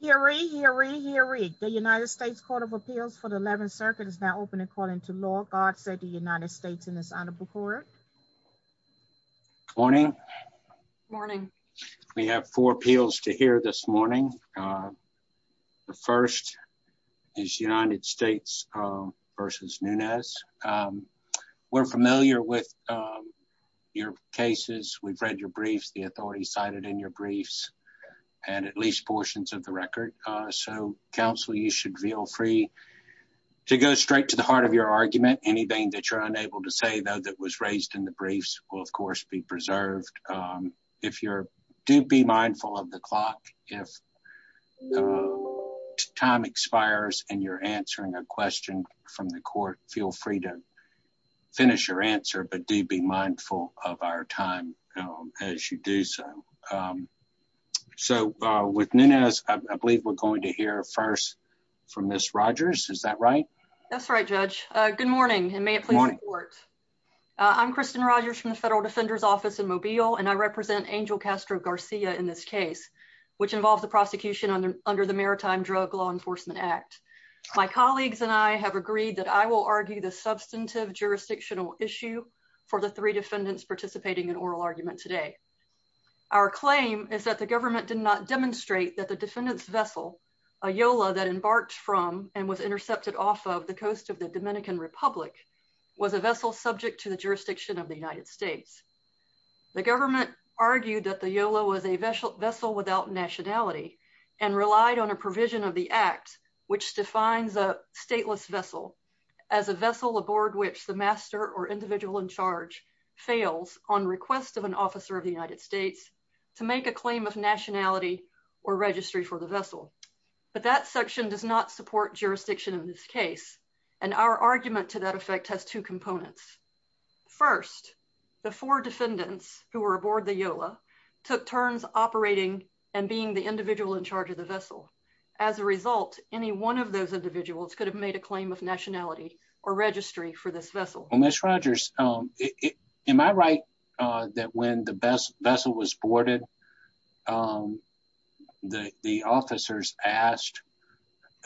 Hear ye, hear ye, hear ye. The United States Court of Appeals for the 11th Circuit is now open and calling to law. God save the United States and His Honorable Court. Morning. Morning. We have four appeals to hear this morning. The first is United States v. Nunez. We're familiar with your cases. We've of the record. So, counsel, you should feel free to go straight to the heart of your argument. Anything that you're unable to say, though, that was raised in the briefs will, of course, be preserved. Do be mindful of the clock. If time expires and you're answering a question from the court, feel free to finish your answer, but do be mindful of our time as you do so. So, with Nunez, I believe we're going to hear first from Ms. Rogers. Is that right? That's right, Judge. Good morning, and may it please the Court. I'm Kristen Rogers from the Federal Defender's Office in Mobile, and I represent Angel Castro-Garcia in this case, which involves the prosecution under the Maritime Drug Law Enforcement Act. My colleagues and I have agreed that I will argue the substantive jurisdictional issue for the three defendants participating in oral argument today. Our claim is that the government did not demonstrate that the defendant's vessel, a YOLA that embarked from and was intercepted off of the coast of the Dominican Republic, was a vessel subject to the jurisdiction of the United States. The government argued that the YOLA was a vessel without nationality and relied on a provision of the Act which defines a stateless vessel as a vessel aboard which the master or individual in charge fails on request of an officer of the United States to make a claim of nationality or registry for the vessel. But that section does not support jurisdiction in this case, and our argument to that effect has two components. First, the four defendants who were aboard the YOLA took turns operating and being the individual in charge of the vessel. As a result, any one of those individuals could have a claim of nationality or registry for this vessel. Well, Ms. Rogers, am I right that when the vessel was boarded, the officers asked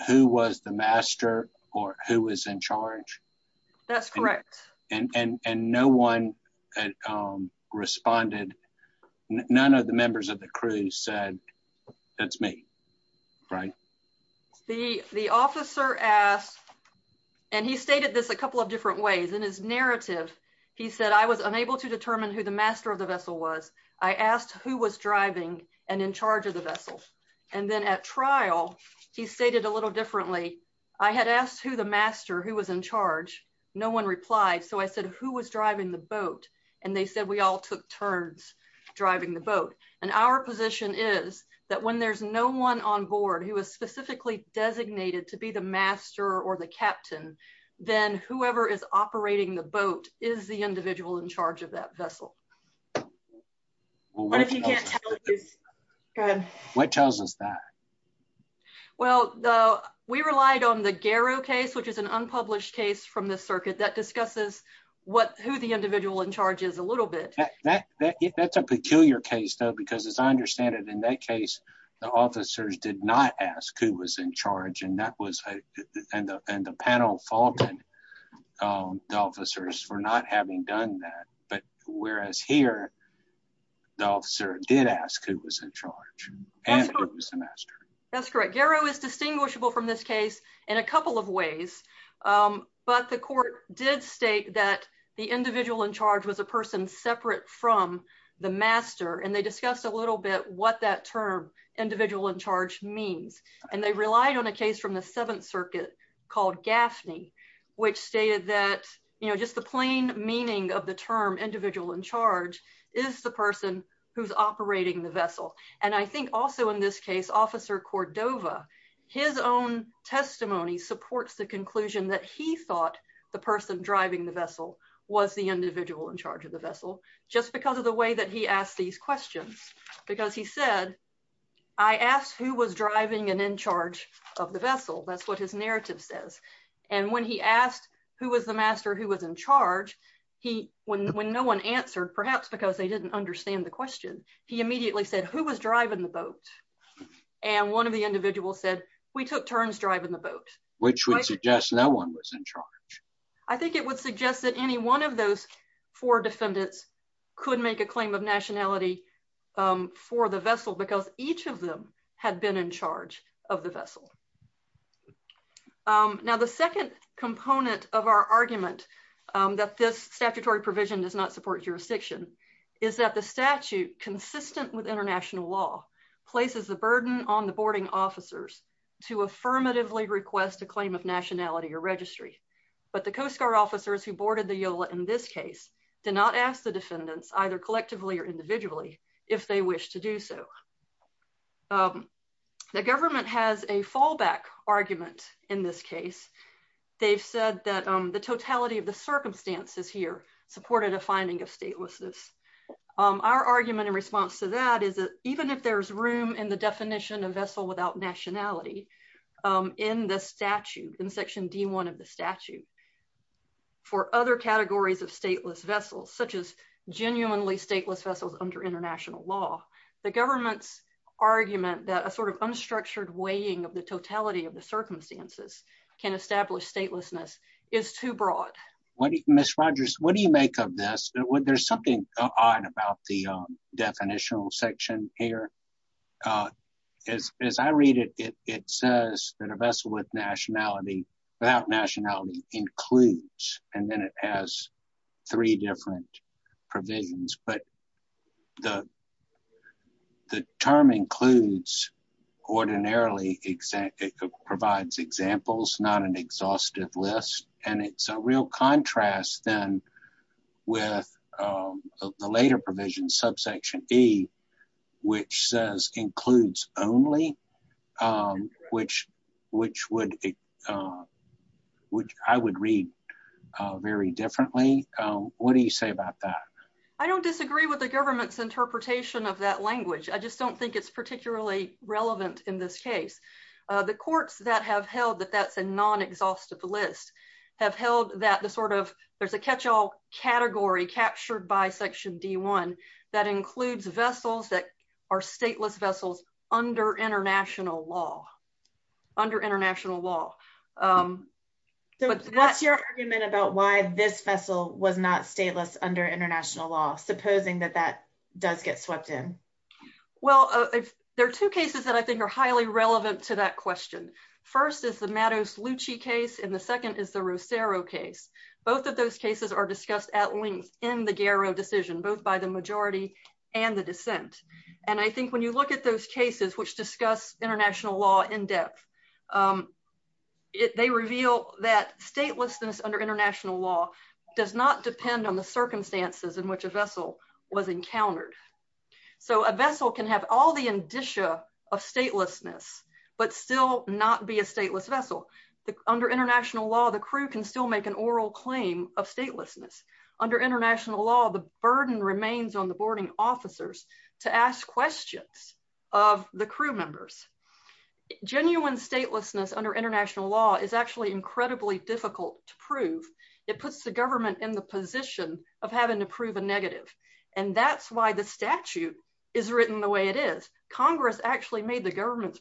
who was the master or who was in charge? That's correct. And no one had responded. None of the members of the crew said, that's me, right? The officer asked, and he stated this a couple of different ways. In his narrative, he said, I was unable to determine who the master of the vessel was. I asked who was driving and in charge of the vessel. And then at trial, he stated a little differently. I had asked who the master who was in charge. No one replied. So I said, who was driving the boat? And they said, we all took turns driving the boat. And our position is that when there's no one on board who is specifically designated to be the master or the captain, then whoever is operating the boat is the individual in charge of that vessel. What tells us that? Well, we relied on the Garrow case, which is an unpublished case from the circuit that discusses who the individual in charge is a little bit. That's a peculiar case, though, because as I understand it, in that case, the officers did not ask who was in charge. And the panel faulted the officers for not having done that. But whereas here, the officer did ask who was in charge and who was the master. That's correct. Garrow is distinguishable from this case in a couple of ways. But the court did state that the individual in charge was a person separate from the master. And they discussed a little bit what that term individual in charge means. And they relied on a case from the Seventh Circuit called Gaffney, which stated that, you know, just the plain meaning of the term individual in charge is the person who's operating the vessel. And I think also in this case, Officer Cordova, his own testimony supports the conclusion that he thought the person driving the vessel was the individual in charge of the vessel, just because of the way that he asked these questions. Because he said, I asked who was driving and in charge of the vessel. That's what his narrative says. And when he asked who was the master who was in charge, when no one answered, perhaps because they didn't understand the question, he immediately said, who was driving the boat? And one of the individuals said, we took turns driving the boat. Which would suggest no one was in charge. I think it would suggest that any one of those four defendants could make a claim of nationality for the vessel, because each of them had been in charge of the vessel. Now, the second component of our argument that this statutory provision does not support jurisdiction, is that the statute, consistent with international law, places the burden on the boarding officers to affirmatively request a claim of nationality or registry. But the Coast Guard officers who boarded the Yola in this case, did not ask the defendants, either collectively or individually, if they wish to do so. The government has a fallback argument in this case. They've said that the totality of the circumstances here supported a finding of statelessness. Our argument in response to that is that even if there's room in the definition of vessel without nationality in the statute, in section D1 of the statute, for other categories of stateless vessels, such as genuinely stateless vessels under international law, the government's argument that sort of unstructured weighing of the totality of the circumstances can establish statelessness is too broad. Miss Rogers, what do you make of this? There's something odd about the definitional section here. As I read it, it says that a vessel without nationality includes, and then it has three different provisions. But the term includes ordinarily, it provides examples, not an exhaustive list. And it's a real contrast then with the later provision, subsection E, which says includes only, which I would read very differently. What do you say about that? I don't disagree with the government's interpretation of that language. I just don't think it's particularly relevant in this case. The courts that have held that that's a non-exhaustive list have held that there's a catch-all category captured by section D1, that includes vessels that are stateless vessels under international law, under international law. So what's your argument about why this vessel was not stateless under international law, supposing that that does get swept in? Well, there are two cases that I think are highly relevant to that question. First is the Matos-Lucci case, and the second is the Rossero case. Both of those cases are discussed at length in the Garrow decision, both by the majority and the dissent, and I think when you look at those cases which discuss international law in depth, they reveal that statelessness under international law does not depend on the circumstances in which a vessel was encountered. So a vessel can have all the indicia of statelessness, but still not be a claim of statelessness. Under international law, the burden remains on the boarding officers to ask questions of the crew members. Genuine statelessness under international law is actually incredibly difficult to prove. It puts the government in the position of having to prove a negative, and that's why the statute is written the way it is. Congress actually made the government's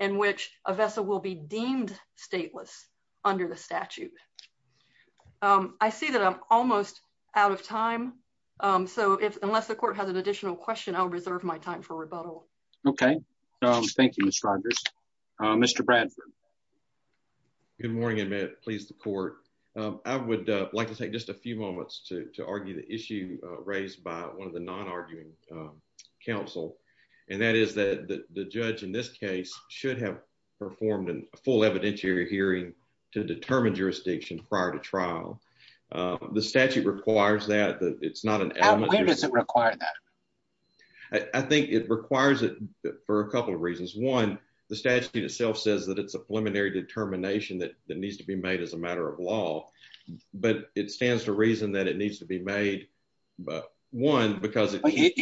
in which a vessel will be deemed stateless under the statute. I see that I'm almost out of time, so unless the court has an additional question, I'll reserve my time for rebuttal. Okay. Thank you, Ms. Rogers. Mr. Bradford. Good morning, and may it please the court. I would like to take just a few moments to argue the issue raised by one of the non-arguing counsel, and that is that the judge in this case should have performed a full evidentiary hearing to determine jurisdiction prior to trial. The statute requires that. It's not an element. When does it require that? I think it requires it for a couple of reasons. One, the statute itself says that it's a preliminary determination that needs to be made as a matter of law, but it stands to reason that it needs to be made, but one, because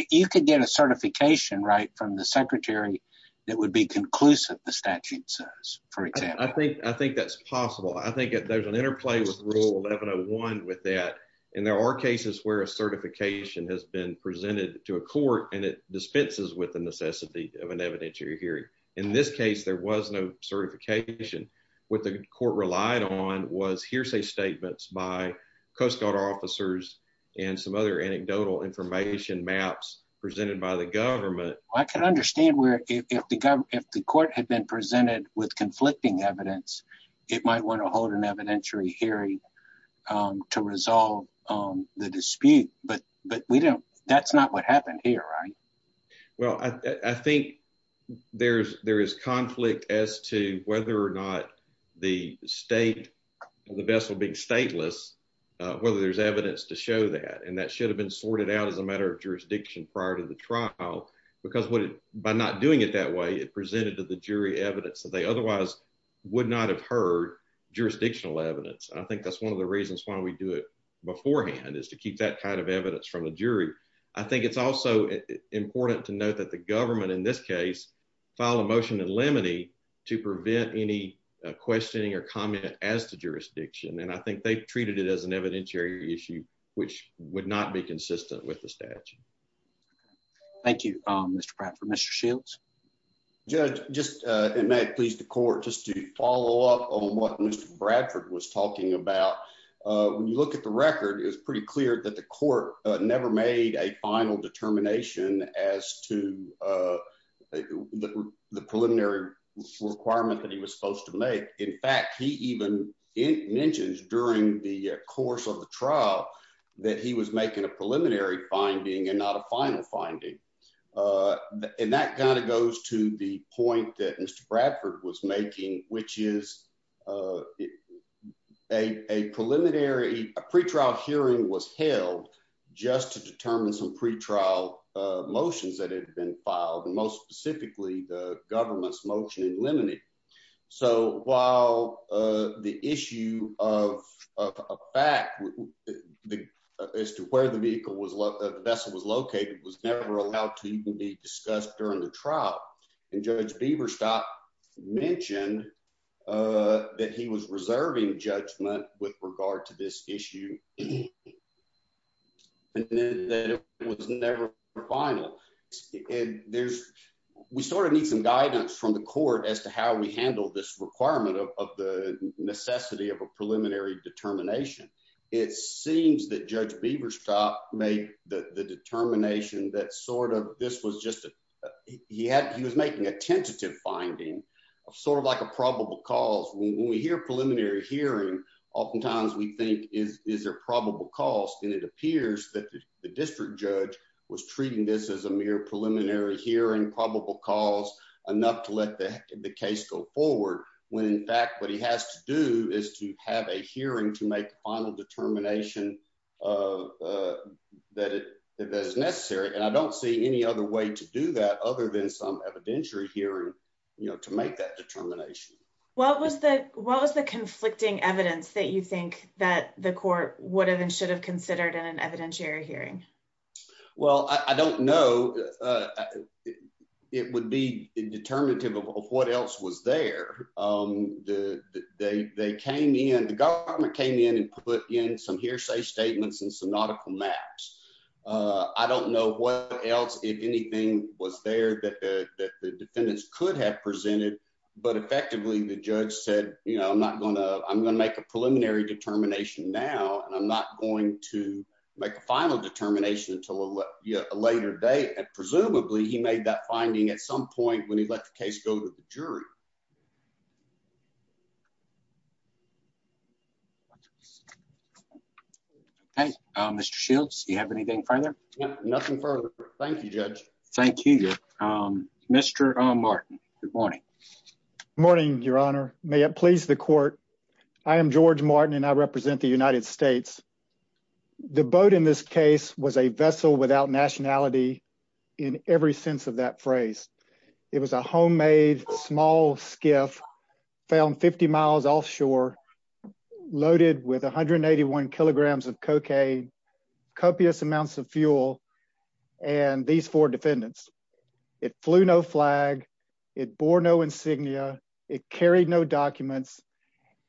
you could get a certification right from the secretary that would be conclusive, the statute says, for example. I think that's possible. I think there's an interplay with rule 1101 with that, and there are cases where a certification has been presented to a court, and it dispenses with the necessity of an evidentiary hearing. In this case, there was no certification. What the court relied on was hearsay statements by Coast Guard officers and some other anecdotal information maps presented by the government. I can understand where if the court had been presented with conflicting evidence, it might want to hold an evidentiary hearing to resolve the dispute, but that's not what happened here, right? Well, I think there is conflict as to whether or not the state, the vessel being stateless, whether there's evidence to show that, and that should have been sorted out as a matter of jurisdiction prior to the trial, because by not doing it that way, it presented to the jury evidence that they otherwise would not have heard jurisdictional evidence. I think that's one of the reasons why we do it beforehand is to keep that kind of important to note that the government in this case filed a motion in limine to prevent any questioning or comment as to jurisdiction, and I think they treated it as an evidentiary issue, which would not be consistent with the statute. Thank you, Mr. Bradford. Mr. Shields? Judge, just, and may it please the court, just to follow up on what Mr. Bradford was talking about, when you look at the record, it's pretty clear that the court never made a final determination as to the preliminary requirement that he was supposed to make. In fact, he even mentions during the course of the trial that he was making a preliminary finding and not a final finding, and that kind of goes to the point that Mr. Bradford was making, which is a preliminary, a pretrial hearing was held just to determine some pretrial motions that had been filed, and most specifically the government's motion in limine. So while the issue of a fact the, as to where the vehicle was, the vessel was located, was never allowed to even be discussed during the trial, and Judge Biberstadt mentioned that he was reserving judgment with regard to this issue, and then that it was never final, and there's, we sort of need some guidance from the court as to how we handle this requirement of the necessity of a preliminary determination, it seems that Judge Biberstadt made the determination that sort of this was just, he had, he was making a tentative finding of sort of like a probable cause. When we hear preliminary hearing, oftentimes we think is there probable cause, and it appears that the district judge was treating this as a mere preliminary hearing, probable cause, enough to let the case go forward, when in fact what he has to do is to have a hearing to make final determination that is necessary, and I don't see any other way to do that other than some evidentiary hearing, you know, to make that determination. What was the conflicting evidence that you think that the court would have and should have considered in an evidentiary hearing? Well, I don't know. It would be determinative of what else was there. They came in, the government came in and put in some hearsay statements and some nautical maps. I don't know what else, if anything, was there that the defendants could have presented, but effectively the judge said, you know, I'm not going to, I'm going to make a preliminary determination now, and I'm not going to make a final determination until a later date, and presumably he made that finding at some point when he let the case go to the jury. Okay, Mr. Shields, do you have anything further? Nothing further. Thank you, Judge. Thank you. Mr. Martin, good morning. Morning, Your Honor. May it please the court, I am George Martin and I represent the United States. The boat in this case was a vessel without nationality in every sense of that phrase. It was a homemade small skiff found 50 miles offshore, loaded with 181 kilograms of cocaine, copious amounts of fuel, and these four defendants. It flew no flag, it bore no insignia, it carried no documents,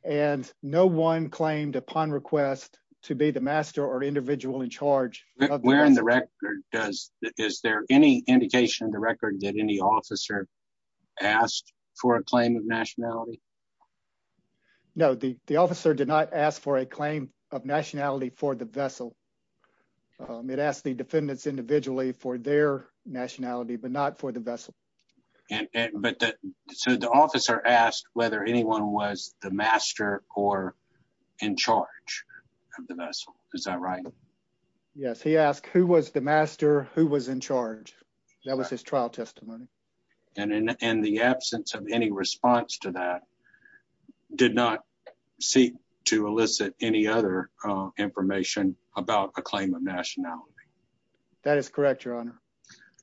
and no one claimed upon request to be the master or individual in charge. Where in the record does, is there any indication in the record that any officer asked for a claim of nationality? No, the officer did not ask for a claim of nationality for the vessel. It asked the defendants individually for their nationality, but not for the vessel. But so the officer asked whether anyone was the master or in charge of the vessel, is that right? Yes, he asked who was the master, who was in charge. That was his trial testimony. And in the absence of any response to that, did not seek to elicit any other information about a claim of nationality? That is correct, Your Honor.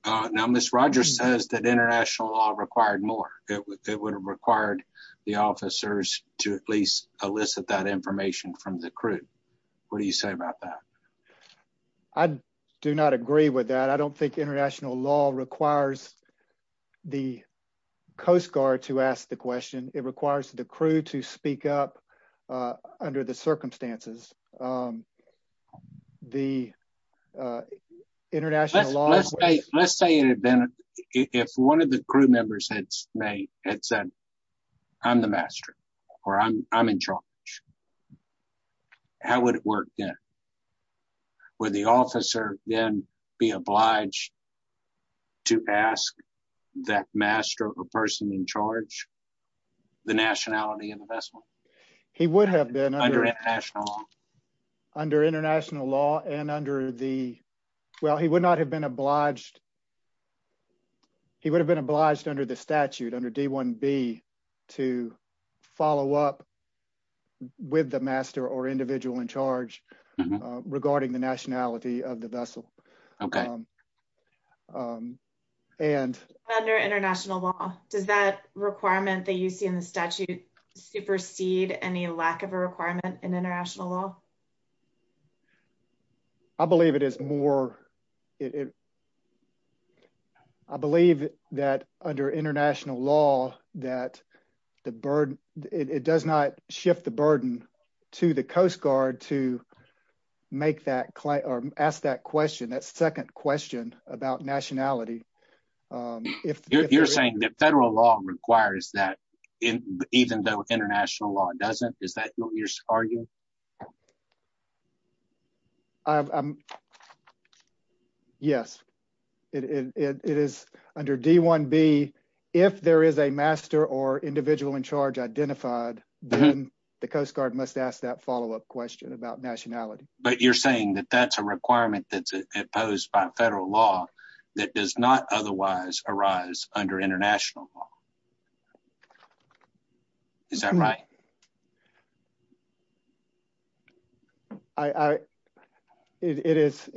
Now, Ms. Rogers says that international law required more. It would have required the officers to at least elicit that information from the crew. What do you say about that? I do not agree with that. I don't think international law requires the Coast Guard to ask the question. It requires the crew to speak up under the circumstances. The international law... Let's say an event, if one of the crew members had said, I'm the master, or I'm in charge, how would it work then? Would the officer then be obliged to ask that master or person in charge the nationality of the vessel? He would have been under international law and under the... Well, he would not have been obliged... He would have been obliged under the statute, under D-1B, to follow up with the master or the person reporting the nationality of the vessel. Under international law, does that requirement that you see in the statute supersede any lack of a requirement in international law? I believe it is more... I believe that under international law, it does not shift the burden to the Coast Guard to ask that question, that second question about nationality. You're saying that federal law requires that, even though international law doesn't? Is that what you're arguing? Yes. It is under D-1B, if there is a master or individual in charge identified, then the Coast Guard must ask that follow-up question about nationality. But you're saying that that's a requirement that's imposed by federal law that does not otherwise arise under international law. Is that right? It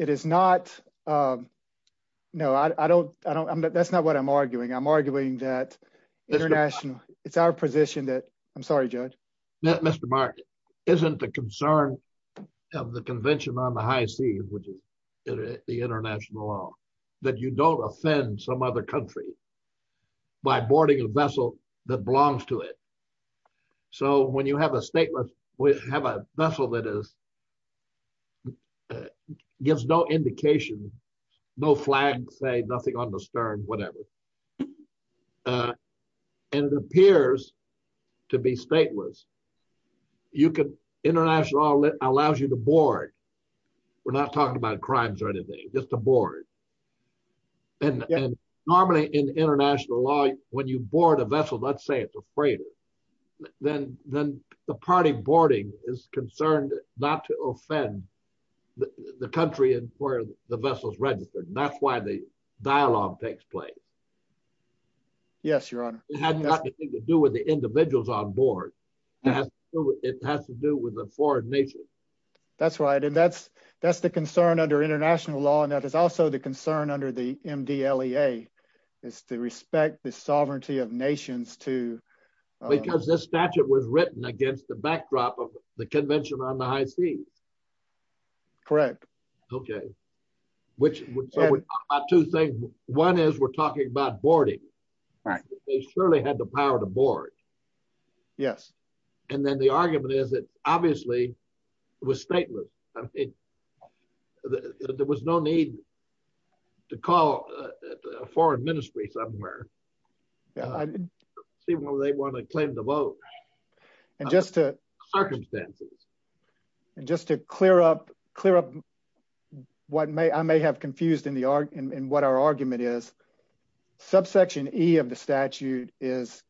is not... No, that's not what I'm arguing. I'm arguing that international... It's our position that... I'm sorry, Judge. Mr. Martin, isn't the concern of the Convention on the High Seas, which is the international law, that you don't offend some other country by boarding a vessel that belongs to it? So when you have a vessel that gives no indication, no flag, say nothing on the stern, whatever, and it appears to be stateless, international law allows you to board. We're not talking about crimes or anything, just to board. And normally in international law, when you board a vessel, let's say it's a freighter, then the party boarding is concerned not to offend the country where the vessel's registered. That's why the dialogue takes place. Yes, Your Honor. It has nothing to do with the individuals on board. It has to do with the foreign nation. That's right. And that's the concern under international law. And that is also the concern under the MDLEA, is to respect the sovereignty of nations to... Because this statute was written against the backdrop of the Convention on the High Seas. Correct. Okay. One is we're talking about boarding. They surely had the power to board. Yes. And then the argument is that obviously it was stateless. There was no need to call a foreign ministry somewhere. I see why they want to claim the vote. Circumstances. And just to clear up what I may have confused in what our argument is, subsection E of the statute is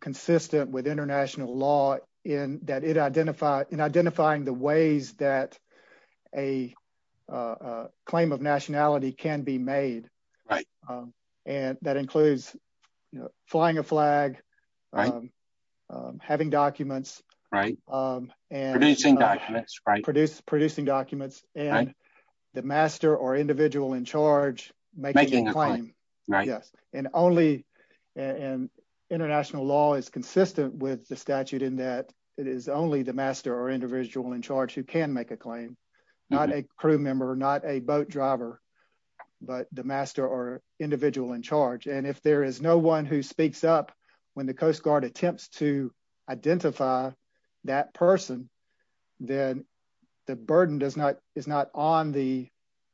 consistent with international law in identifying the ways that a claim of nationality can be made. Right. And that includes flying a flag, having documents. Right. Producing documents. Right. Producing documents. And the master or individual in charge making a claim. Right. Yes. And international law is consistent with the statute in that it is only the master or individual in charge who can make a claim. Not a crew member, not a boat driver, but the master or individual in charge. And if there is no one who speaks up when the Coast Guard attempts to identify that person, then the burden is not on the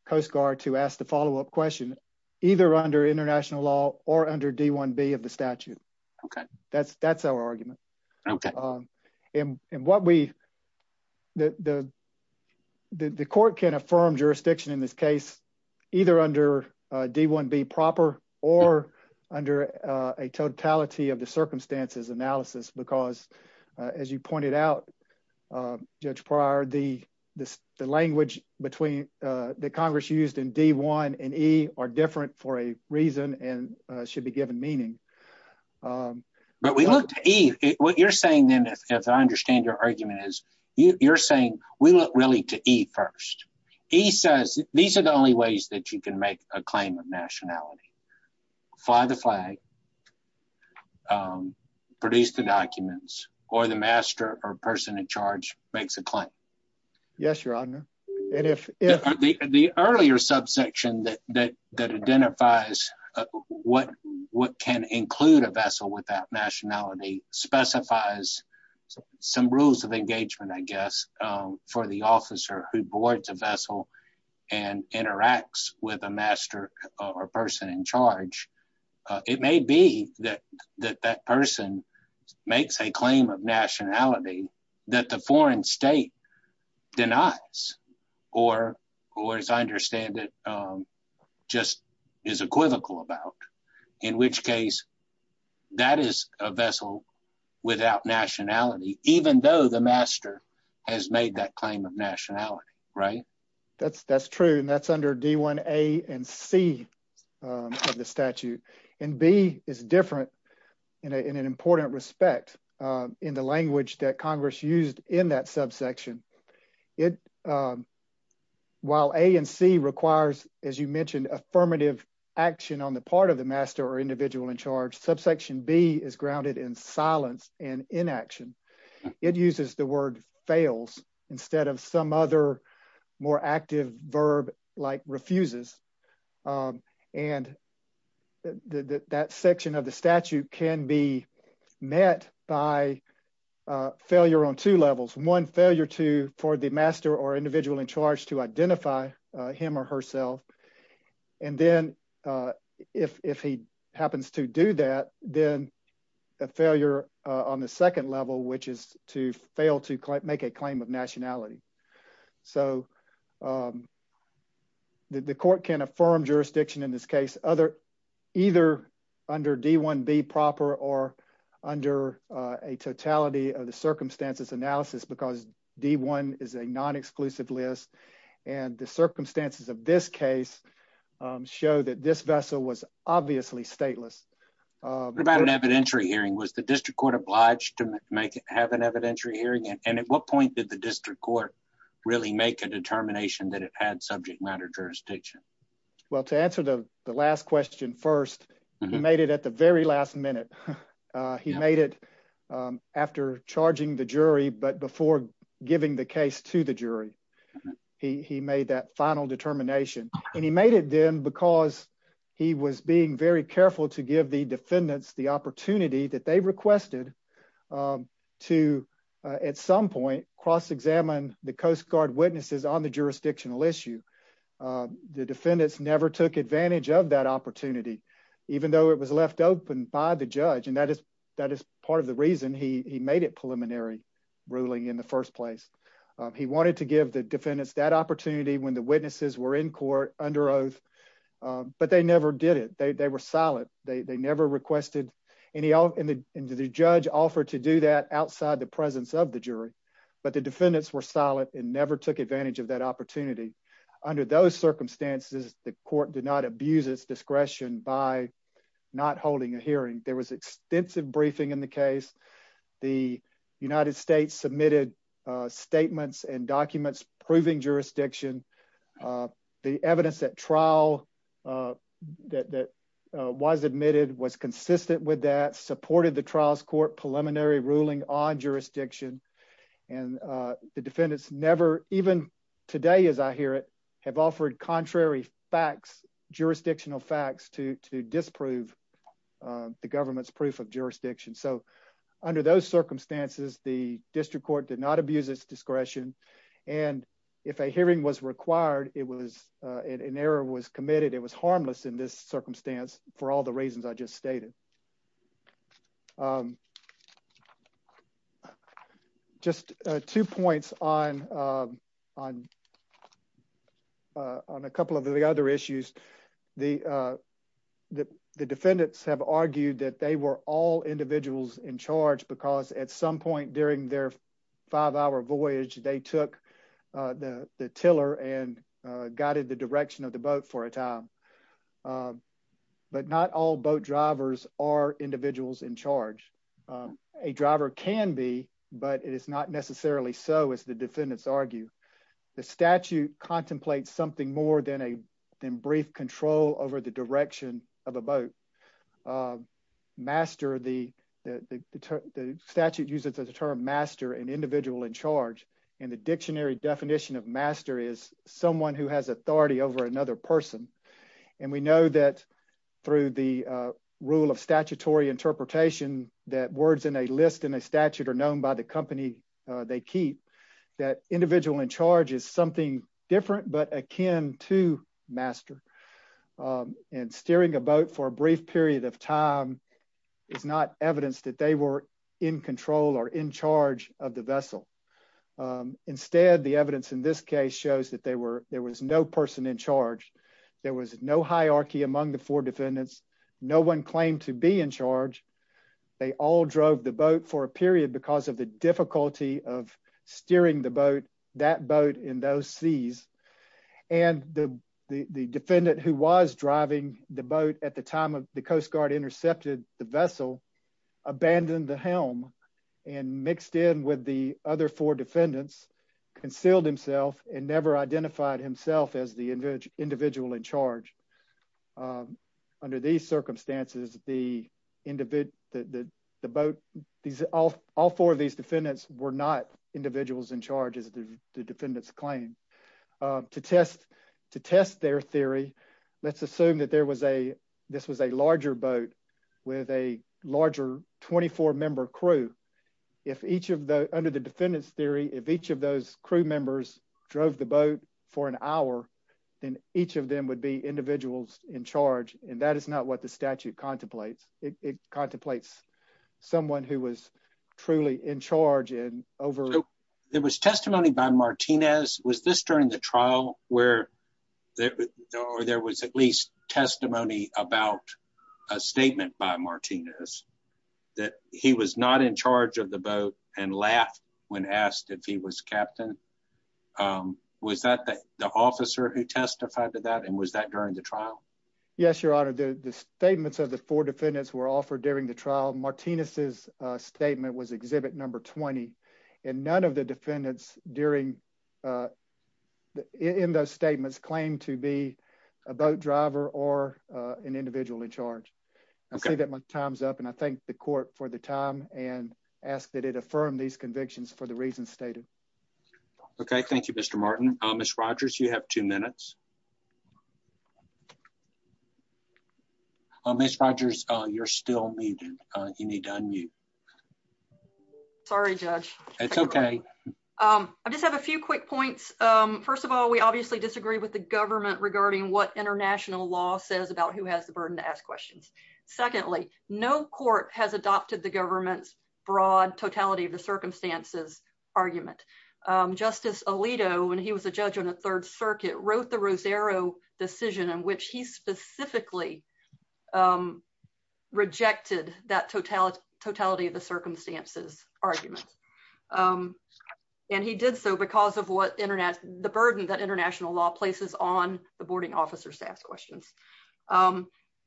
Coast Guard to ask the follow-up question, either under international law or under D1B of the statute. Okay. That's our argument. Okay. And what we... The court can affirm jurisdiction in this case, either under D1B proper or under a totality of the circumstances analysis, because as you pointed out, Judge Pryor, the language that Congress used in D1 and E are different for a reason and should be given meaning. But we looked at E. What you're saying then, as I understand your argument is, you're saying we look really to E first. E says, these are the only ways that you can make a claim of nationality. Fly the flag, produce the documents, or the master or person in charge makes a claim. Yes, Your Honor. And if... The earlier subsection that identifies what can include a vessel without nationality specifies some rules of engagement, I guess, for the officer who boards a vessel and interacts with a master or person in charge, it may be that that person makes a claim of nationality that the foreign state denies or, as I understand it, just is equivocal about. In which case, that is a vessel without nationality, even though the master has made that claim of nationality, right? That's true. And that's under D1A and C of the statute. And B is different in an important respect in the language that Congress used in that subsection. While A and C requires, as you mentioned, affirmative action on the part of the master or individual in charge, subsection B is grounded in silence and inaction. It uses the word fails instead of some other more active verb like refuses. And that section of the statute can be met by failure on two levels. One, failure for the master or individual in charge to identify him or herself. And then, if he happens to do that, then a failure on the second level, which is to fail to make a claim of nationality. So the court can affirm jurisdiction in this case, either under D1B proper or under a totality of the circumstances analysis because D1 is a non-exclusive list. And the circumstances of this case show that this vessel was obviously stateless. What about an evidentiary hearing? Was the district court obliged to have an evidentiary hearing? And at what point did the district court really make a determination that it had subject matter jurisdiction? Well, to answer the last question first, he made it at the very last minute. He made it after charging the jury, but before giving the case to the jury, he made that final determination. And he made it then because he was being very careful to give the defendants the opportunity that they requested to, at some point, cross-examine the Coast Guard witnesses on the jurisdictional issue. The defendants never took advantage of that opportunity, even though it was left open by the judge. And that is part of the reason he made it preliminary ruling in the first place. He wanted to give the defendants that opportunity when the witnesses were in court under oath, but they never did it. They were silent. They never requested any, and the judge offered to do that outside the presence of the jury, but the defendants were silent and never took advantage of that opportunity. Under those circumstances, the court did not abuse its discretion by not holding a hearing. There was extensive briefing in the case. The United States submitted statements and documents proving jurisdiction. The evidence that trial that was admitted was consistent with that, supported the trial's court preliminary ruling on jurisdiction. And the defendants never, even today as I hear it, have offered contrary facts, jurisdictional facts to disprove the government's proof of jurisdiction. So under those circumstances, the district court did not abuse its discretion. And if a hearing was required, it was an error was committed. It was harmless in this circumstance for all the reasons I just stated. Just two points on a couple of the other issues. The defendants have argued that they were all during their five-hour voyage, they took the tiller and guided the direction of the boat for a time. But not all boat drivers are individuals in charge. A driver can be, but it is not necessarily so, as the defendants argue. The statute contemplates something more than brief control over the direction of a boat. The statute uses the term master and individual in charge. And the dictionary definition of master is someone who has authority over another person. And we know that through the rule of statutory interpretation that words in a list in a statute are known by the company they keep, that individual in charge is something different but akin to a master. And steering a boat for a brief period of time is not evidence that they were in control or in charge of the vessel. Instead, the evidence in this case shows that there was no person in charge. There was no hierarchy among the four defendants. No one claimed to be in charge. They all drove the boat for a period because of the difficulty of steering that boat in those seas. And the defendant who was driving the boat at the time of the Coast Guard intercepted the vessel, abandoned the helm and mixed in with the other four defendants, concealed himself and never identified himself as the individual in charge. Under these circumstances, all four of these defendants were not individuals in charge as the defendants claimed. To test their theory, let's assume that this was a larger boat with a larger 24-member crew. Under the defendant's theory, if each of those crew members drove the boat for an hour, then each of them would be individuals in charge. And that is not what the statute contemplates. It contemplates someone who was truly in charge and over... There was testimony by Martinez. Was this during the trial where there was at least testimony about a statement by Martinez that he was not in charge of the boat and laughed when asked if he was captain? Was that the officer who testified to that? And was that during the trial? Yes, Your Honor. The statements of the four defendants were offered during the trial. Martinez's statement was Exhibit No. 20. And none of the defendants in those statements claimed to be a boat driver or an individual in charge. I see that my time's up, and I thank the court for the time and ask that it affirm these convictions for the reasons stated. Okay. Thank you, Mr. Martin. Ms. Rogers, you have two minutes. Ms. Rogers, you're still muted. You need to unmute. Sorry, Judge. It's okay. I just have a few quick points. First of all, we obviously disagree with the government regarding what international law says about who has the burden to ask questions. Secondly, no court has adopted the government's broad totality of the circumstances argument. Justice Alito, when he was a judge on the Third Circuit, wrote the Rosero decision in which he specifically rejected that totality of the circumstances argument. And he did so because of the burden that international law places on the boarding officers to ask questions.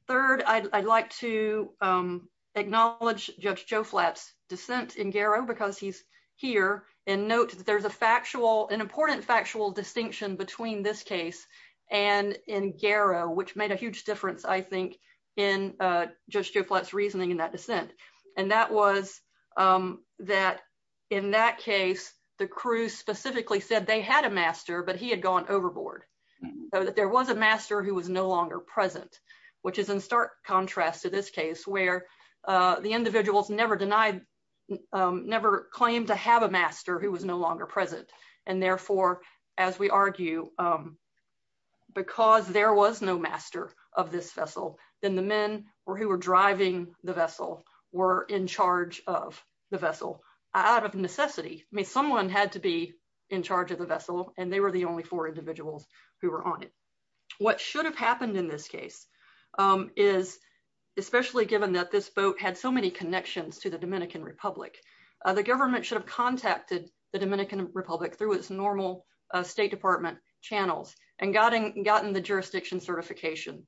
Third, I'd like to acknowledge Judge Joe Flapp's dissent in Garrow because he's here. And note that there's an important factual distinction between this case and in Garrow, which made a huge difference, I think, in Judge Joe Flapp's reasoning in that dissent. And that was that in that case, the crew specifically said they had a master, but he had gone overboard, that there was a master who was no longer present, which is in stark contrast to this case where the individuals never denied, never claimed to have a master who was no longer present. And therefore, as we argue, because there was no master of this vessel, then the men who were driving the vessel were in charge of the vessel out of necessity. I mean, someone had to be in charge of the vessel, and they were the only four individuals who were on it. What should have happened in this case is, especially given that this boat had so many connections to the Republic through its normal State Department channels and gotten the jurisdiction certification.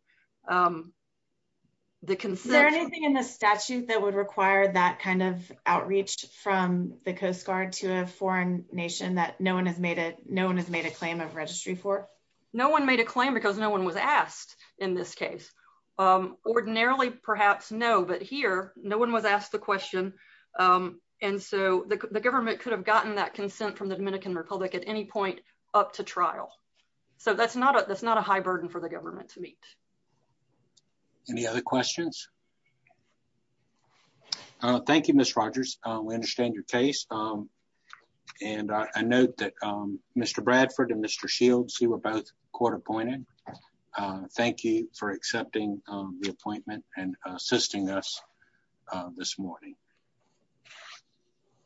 Is there anything in the statute that would require that kind of outreach from the Coast Guard to a foreign nation that no one has made a claim of registry for? No one made a claim because no one was asked in this case. Ordinarily, perhaps no, but here no one was asked the question, and so the government could have gotten that consent from the Dominican Republic at any point up to trial. So that's not a high burden for the government to meet. Any other questions? Thank you, Ms. Rogers. We understand your case, and I note that Mr. Bradford and Mr. Shields, you were both court appointed. Thank you for accepting the appointment and assisting us this morning.